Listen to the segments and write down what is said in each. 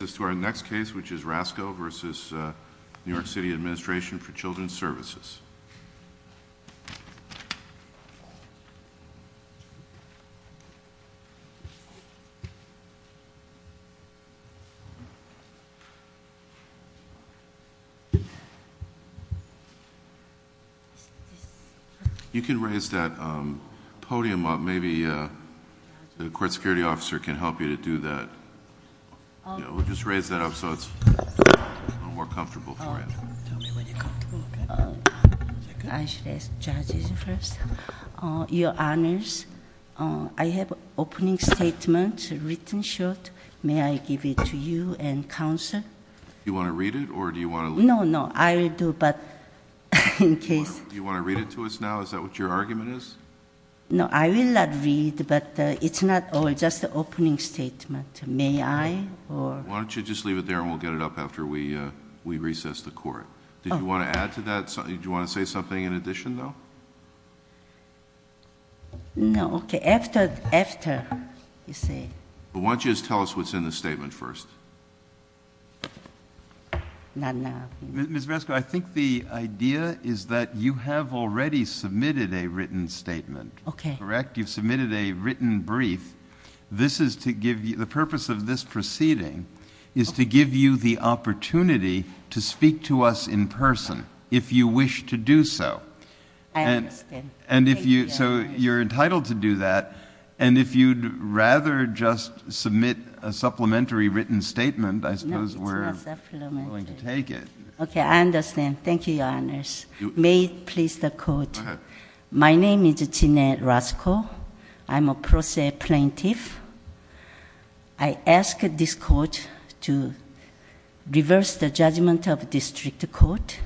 which is Rasko v. New York City Administration for Children's Services. You can raise that podium up, maybe the court security officer can help you to do that. Yeah, we'll just raise that up so it's a little more comfortable for you. Tell me when you're comfortable, okay. Is that good? I should ask judges first. Your Honors, I have an opening statement written short. May I give it to you and counsel? Do you want to read it or do you want to- No, no, I will do, but in case- Do you want to read it to us now? Is that what your argument is? No, I will not read, but it's not all, just the opening statement. May I? Why don't you just leave it there and we'll get it up after we recess the court. Did you want to add to that? Do you want to say something in addition, though? No, okay, after you say. Why don't you just tell us what's in the statement first? Not now. Ms. Brasco, I think the idea is that you have already submitted a written statement, correct? Okay. You've submitted a written brief. The purpose of this proceeding is to give you the opportunity to speak to us in person if you wish to do so. I understand. Thank you. You're entitled to do that, and if you'd rather just submit a supplementary written statement, I suppose we're willing to take it. Okay, I understand. Thank you, Your Honors. May it please the Court. Go ahead. My name is Jeanette Brasco. I'm a process plaintiff. I ask this Court to reverse the judgment of district court.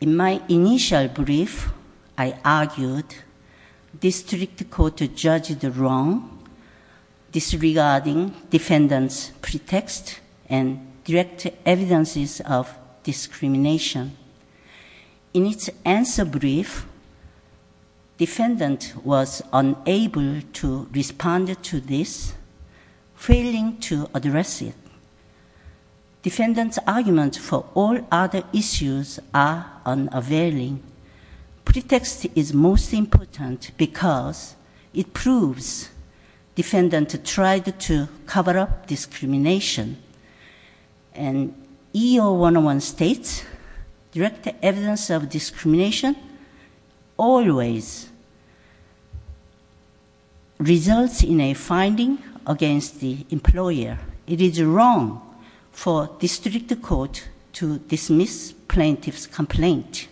In my initial brief, I argued district court judged wrong disregarding defendant's pretext and direct evidences of discrimination. In its answer brief, defendant was unable to respond to this, failing to address it. Defendant's arguments for all other issues are unavailing. Pretext is most important because it proves defendant tried to cover up discrimination. And EO-101 states direct evidence of discrimination always results in a finding against the employer. It is wrong for district court to dismiss plaintiff's complaint.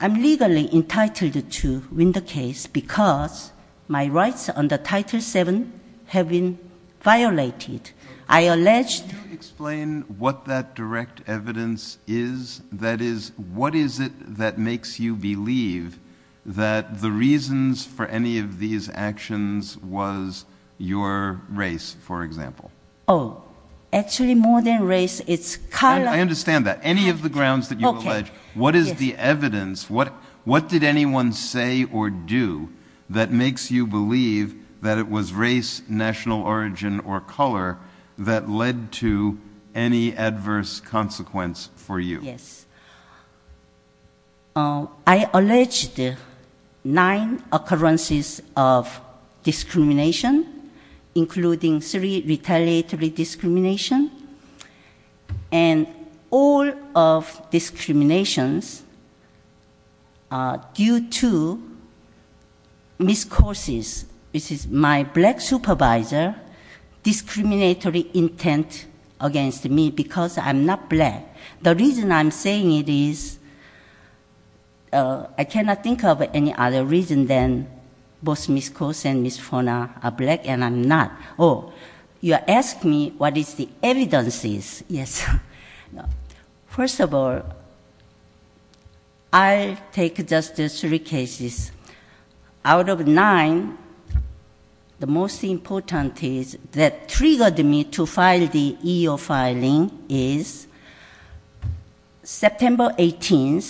I'm legally entitled to win the case because my rights under Title VII have been violated. Could you explain what that direct evidence is? That is, what is it that makes you believe that the reasons for any of these actions was your race, for example? Oh, actually more than race, it's color. I understand that. Any of the grounds that you allege, what is the evidence? What did anyone say or do that makes you believe that it was race, national origin, or color that led to any adverse consequence for you? Yes. I alleged nine occurrences of discrimination, including three retaliatory discrimination. And all of discriminations are due to miscourses. This is my black supervisor's discriminatory intent against me because I'm not black. The reason I'm saying it is I cannot think of any other reason than both Miss Coase and Miss Foner are black and I'm not. Oh, you ask me what is the evidence is. Yes. First of all, I'll take just three cases. Out of nine, the most important is that triggered me to file the EO filing is September 18,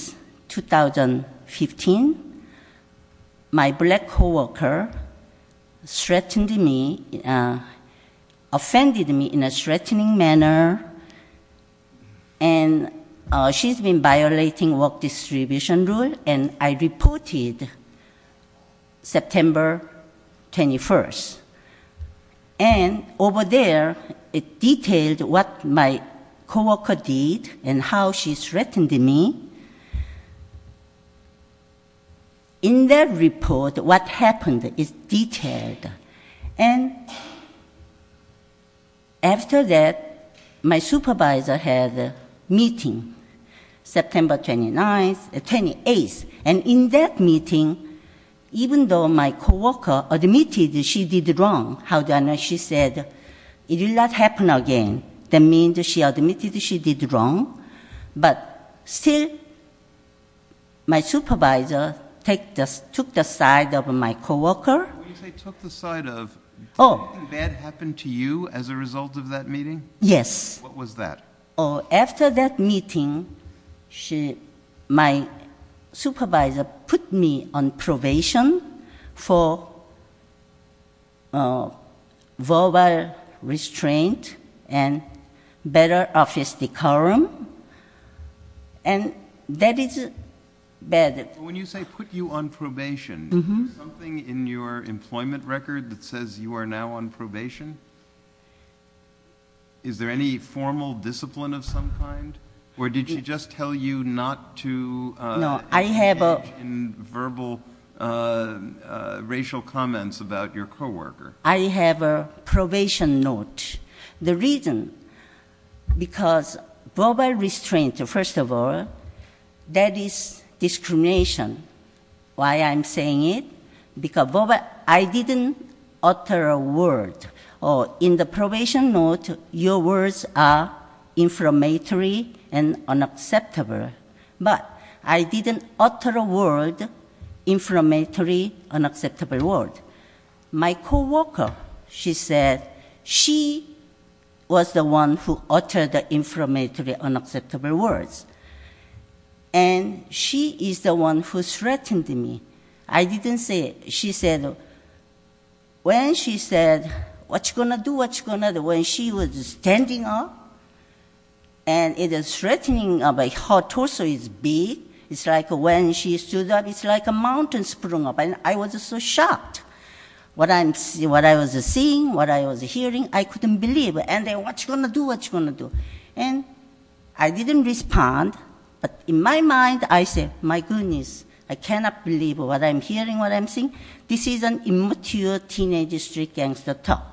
2015. My black coworker threatened me, offended me in a threatening manner, and she's been violating work distribution rule, and I reported September 21. And over there, it detailed what my coworker did and how she threatened me. In that report, what happened is detailed. And after that, my supervisor had a meeting, September 28. And in that meeting, even though my coworker admitted she did wrong, she said it will not happen again. That means she admitted she did wrong, but still my supervisor took the side of my coworker. When you say took the side of, did anything bad happen to you as a result of that meeting? Yes. What was that? After that meeting, my supervisor put me on probation for verbal restraint and better office decorum, and that is bad. When you say put you on probation, is there something in your employment record that says you are now on probation? Is there any formal discipline of some kind? Or did she just tell you not to engage in verbal racial comments about your coworker? I have a probation note. The reason, because verbal restraint, first of all, that is discrimination. Why I'm saying it? Because I didn't utter a word. In the probation note, your words are inflammatory and unacceptable. But I didn't utter a word, inflammatory, unacceptable word. My coworker, she said, she was the one who uttered the inflammatory, unacceptable words. And she is the one who threatened me. I didn't say it. She said, when she said, what you going to do, what you going to do, when she was standing up, and the threatening of her torso is big, it's like when she stood up, it's like a mountain sprung up. And I was so shocked. What I was seeing, what I was hearing, I couldn't believe. And what you going to do, what you going to do? And I didn't respond. But in my mind, I said, my goodness, I cannot believe what I'm hearing, what I'm seeing. This is an immature teenage street gangster talk.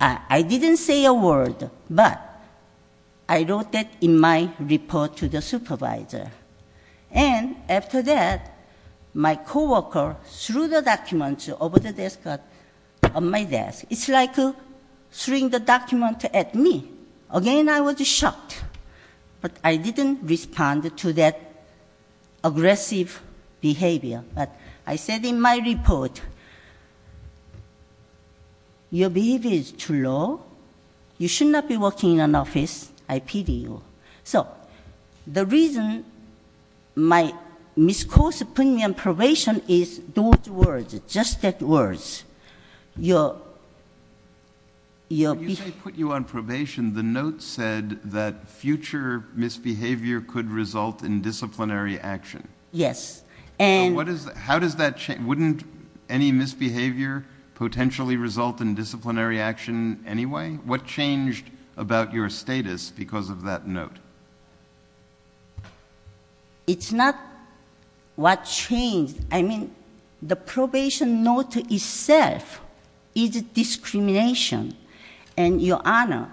I didn't say a word, but I wrote that in my report to the supervisor. And after that, my coworker threw the document over the desk, on my desk. It's like throwing the document at me. Again, I was shocked. But I didn't respond to that aggressive behavior. But I said in my report, your behavior is too low. You should not be working in an office. I pity you. So the reason my misconduct put me on probation is those words, just that words. When you say put you on probation, the note said that future misbehavior could result in disciplinary action. Yes. So how does that change? Wouldn't any misbehavior potentially result in disciplinary action anyway? What changed about your status because of that note? It's not what changed. I mean, the probation note itself is discrimination. And, Your Honor,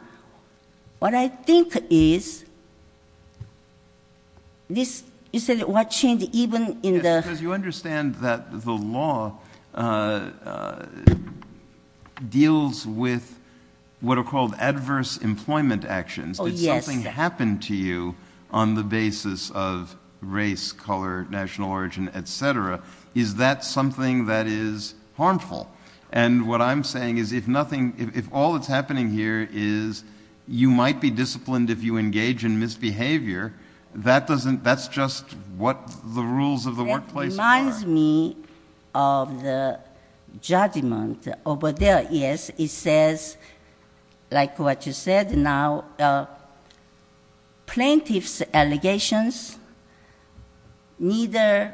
what I think is this is what changed even in the- Yes, because you understand that the law deals with what are called adverse employment actions. Oh, yes. It's something that happened to you on the basis of race, color, national origin, et cetera. Is that something that is harmful? And what I'm saying is if nothing-if all that's happening here is you might be disciplined if you engage in misbehavior, that doesn't-that's just what the rules of the workplace are. That reminds me of the judgment over there. Yes, it says, like what you said now, plaintiff's allegations neither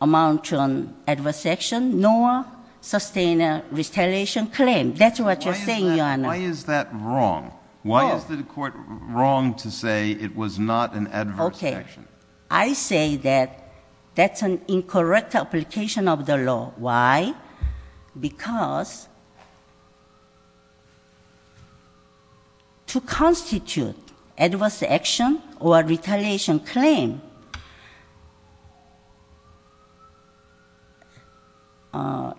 amount to an adverse action nor sustain a retaliation claim. That's what you're saying, Your Honor. Why is that wrong? Why is the court wrong to say it was not an adverse action? Okay. I say that that's an incorrect application of the law. Why? Because to constitute adverse action or retaliation claim,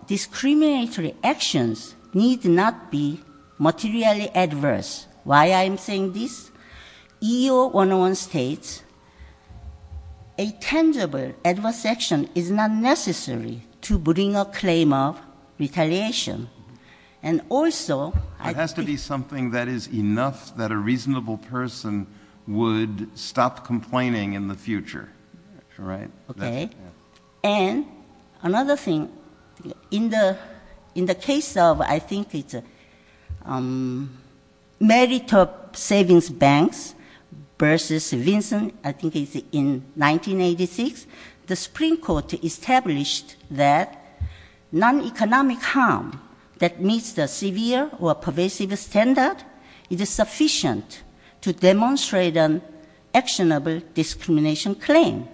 discriminatory actions need not be materially adverse. Why I'm saying this? EEO-101 states a tangible adverse action is not necessary to bring a claim of retaliation. And also- It has to be something that is enough that a reasonable person would stop complaining in the future, right? Okay. And another thing, in the-in the case of I think it's Merit of Savings Banks versus Vinson, I think it's in 1986, the Supreme Court established that non-economic harm that meets the severe or pervasive standard is sufficient to demonstrate an actionable discrimination claim.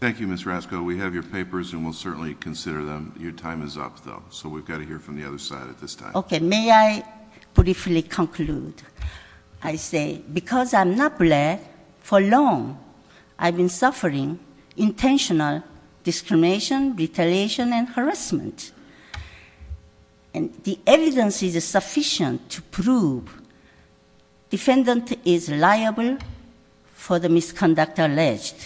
Thank you, Ms. Rasko. We have your papers, and we'll certainly consider them. Your time is up, though, so we've got to hear from the other side at this time. Okay. May I briefly conclude? I say because I'm not black, for long I've been suffering intentional discrimination, retaliation, and harassment. And the evidence is sufficient to prove defendant is liable for the misconduct alleged.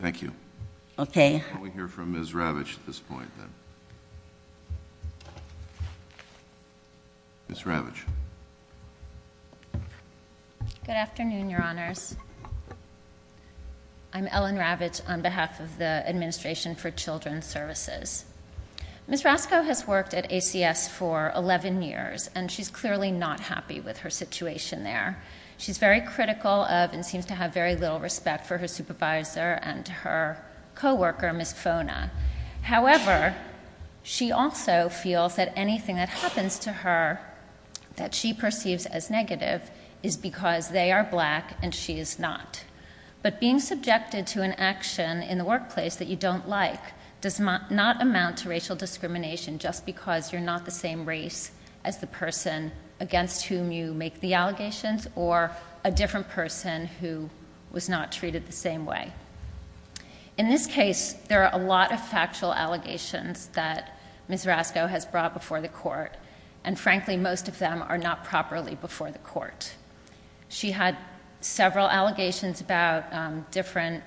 Thank you. Okay. We'll hear from Ms. Ravitch at this point, then. Ms. Ravitch. Good afternoon, Your Honors. I'm Ellen Ravitch on behalf of the Administration for Children's Services. Ms. Rasko has worked at ACS for 11 years, and she's clearly not happy with her situation there. She's very critical of and seems to have very little respect for her supervisor and her co-worker, Ms. Fona. However, she also feels that anything that happens to her that she perceives as negative is because they are black and she is not. But being subjected to an action in the workplace that you don't like does not amount to racial discrimination just because you're not the same race as the person against whom you make the allegations or a different person who was not treated the same way. In this case, there are a lot of factual allegations that Ms. Rasko has brought before the court, and frankly, most of them are not properly before the court. She had several allegations about different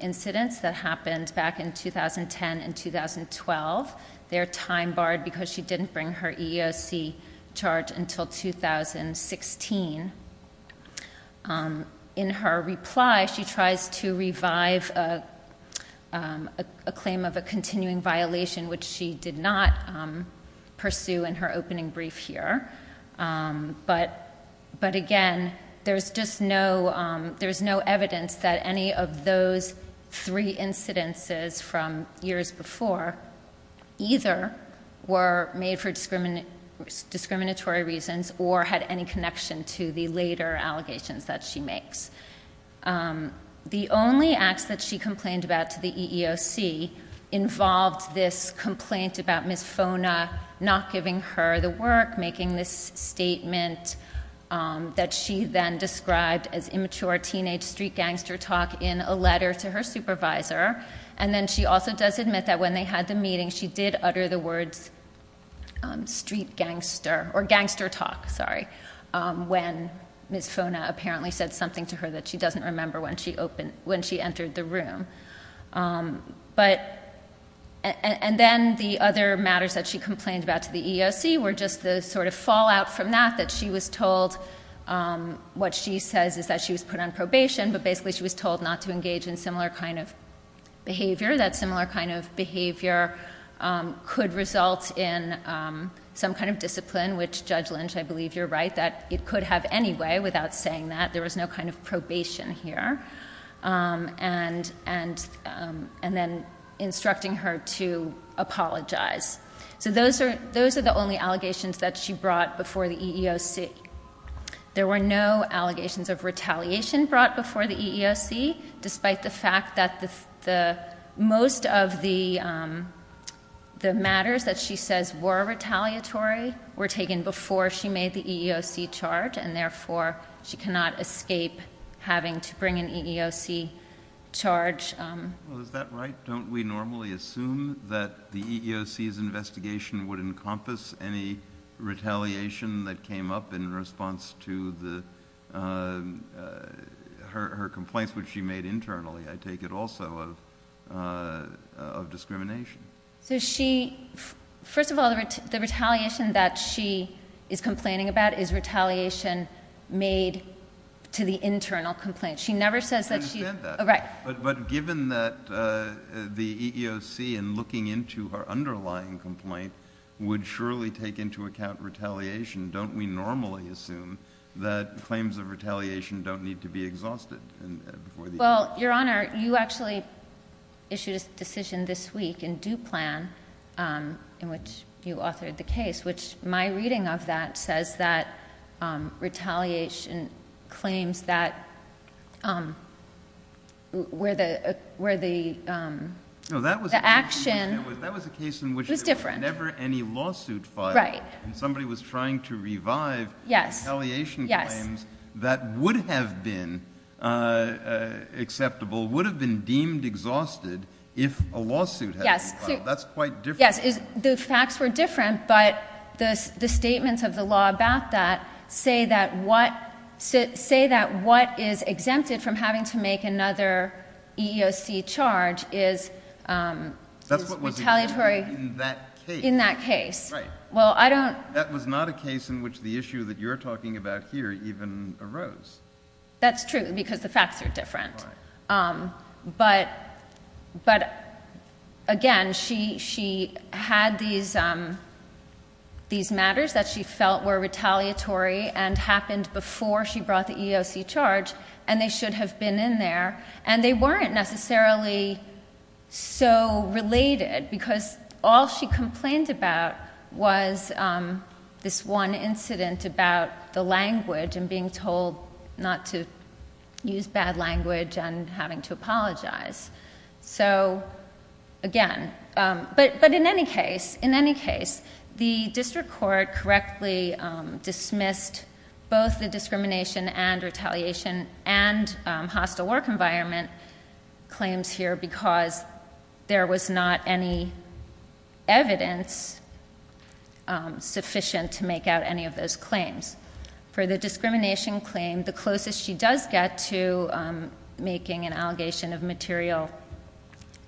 incidents that happened back in 2010 and 2012. They're time-barred because she didn't bring her EEOC charge until 2016. In her reply, she tries to revive a claim of a continuing violation, which she did not pursue in her opening brief here. But again, there's no evidence that any of those three incidences from years before either were made for discriminatory reasons or had any connection to the later allegations that she makes. The only acts that she complained about to the EEOC involved this complaint about Ms. Fona not giving her the work, making this statement that she then described as immature teenage street gangster talk in a letter to her supervisor. And then she also does admit that when they had the meeting, she did utter the words, street gangster, or gangster talk, sorry, when Ms. Fona apparently said something to her that she doesn't remember when she entered the room. And then the other matters that she complained about to the EEOC were just the sort of fallout from that, that she was told, what she says is that she was put on probation, but basically she was told not to engage in similar kind of behavior. That similar kind of behavior could result in some kind of discipline, which Judge Lynch, I believe you're right, that it could have anyway without saying that. There was no kind of probation here. And then instructing her to apologize. So those are the only allegations that she brought before the EEOC. Well, is that right? Don't we normally assume that the EEOC's investigation would encompass any retaliation that came up in response to her complaints which she made internally, I take it also, of discrimination? So she, first of all, the retaliation that she is complaining about is retaliation made to the internal complaint. I understand that. Right. But given that the EEOC in looking into her underlying complaint would surely take into account retaliation, don't we normally assume that claims of retaliation don't need to be exhausted? Well, Your Honor, you actually issued a decision this week in due plan in which you authored the case, which my reading of that says that retaliation claims that where the action was different. That was a case in which there was never any lawsuit filed. Right. Somebody was trying to revive retaliation claims that would have been acceptable, would have been deemed exhausted if a lawsuit had been filed. Yes. That's quite different. Yes. The facts were different, but the statements of the law about that say that what is exempted from having to make another EEOC charge is retaliatory. That's what was exempted in that case. In that case. Right. That was not a case in which the issue that you're talking about here even arose. That's true because the facts are different. Right. But again, she had these matters that she felt were retaliatory and happened before she brought the EEOC charge, and they should have been in there. They weren't necessarily so related because all she complained about was this one incident about the language and being told not to use bad language and having to apologize. So again, but in any case, the district court correctly dismissed both the discrimination and retaliation and hostile work environment claims here because there was not any evidence sufficient to make out any of those claims. For the discrimination claim, the closest she does get to making an allegation of material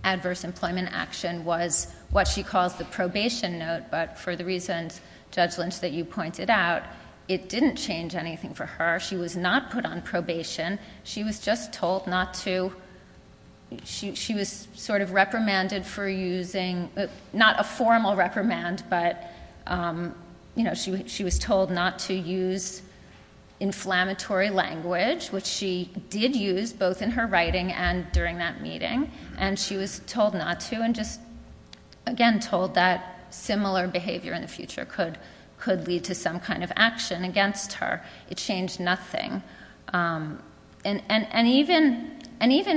adverse employment action was what she calls the probation note. But for the reasons, Judge Lynch, that you pointed out, it didn't change anything for her. She was not put on probation. She was just told not to. She was sort of reprimanded for using, not a formal reprimand, but she was told not to use inflammatory language, which she did use both in her writing and during that meeting. And she was told not to and just, again, told that similar behavior in the future could lead to some kind of action against her. It changed nothing. And even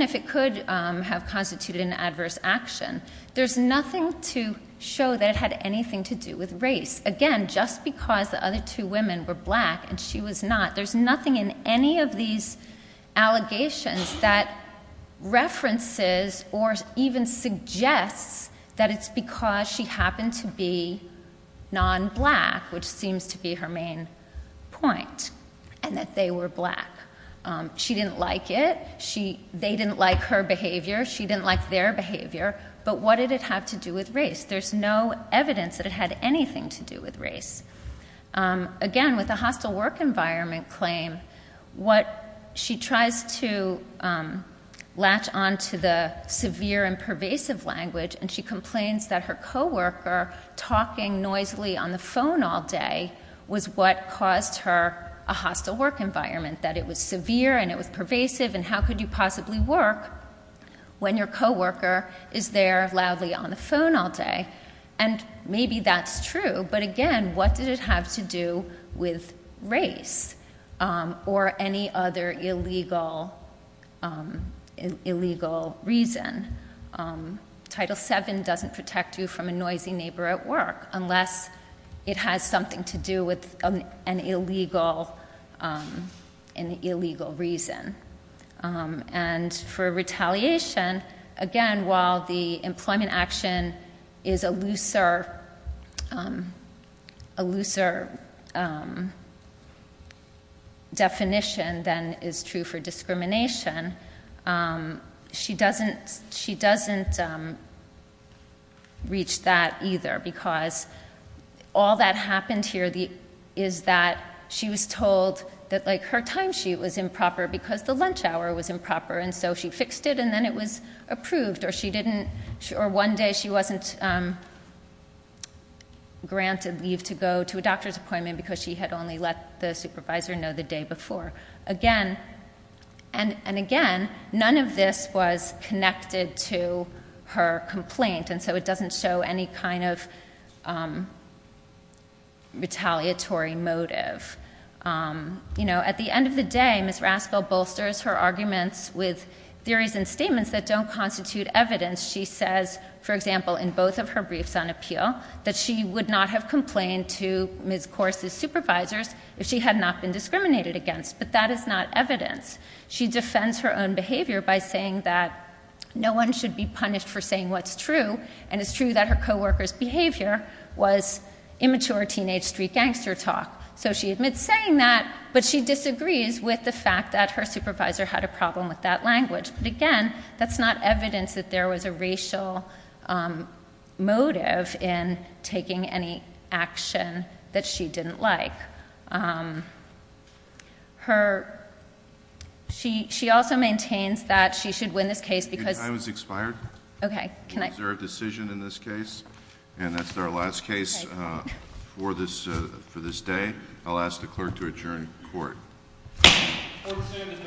if it could have constituted an adverse action, there's nothing to show that it had anything to do with race. Again, just because the other two women were black and she was not, there's nothing in any of these allegations that references or even suggests that it's because she happened to be non-black, which seems to be her main point, and that they were black. She didn't like it. They didn't like her behavior. She didn't like their behavior. But what did it have to do with race? There's no evidence that it had anything to do with race. Again, with the hostile work environment claim, what she tries to latch on to the severe and pervasive language, and she complains that her co-worker talking noisily on the phone all day was what caused her a hostile work environment, that it was severe and it was pervasive and how could you possibly work when your co-worker is there loudly on the phone all day? And maybe that's true, but again, what did it have to do with race or any other illegal reason? Title VII doesn't protect you from a noisy neighbor at work unless it has something to do with an illegal reason. And for retaliation, again, while the employment action is a looser definition than is true for discrimination, she doesn't reach that either. All that happened here is that she was told that her time sheet was improper because the lunch hour was improper, and so she fixed it, and then it was approved. Or one day she wasn't granted leave to go to a doctor's appointment because she had only let the supervisor know the day before. And again, none of this was connected to her complaint, and so it doesn't show any kind of retaliatory motive. At the end of the day, Ms. Raskel bolsters her arguments with theories and statements that don't constitute evidence. She says, for example, in both of her briefs on appeal, that she would not have complained to Ms. Corse's supervisors if she had not been discriminated against, but that is not evidence. She defends her own behavior by saying that no one should be punished for saying what's true, and it's true that her co-worker's behavior was immature teenage street gangster talk. So she admits saying that, but she disagrees with the fact that her supervisor had a problem with that language. But again, that's not evidence that there was a racial motive in taking any action that she didn't like. She also maintains that she should win this case because— Your time has expired. Okay, can I— It's a reserved decision in this case, and that's our last case for this day. I'll ask the clerk to adjourn court. Court is adjourned.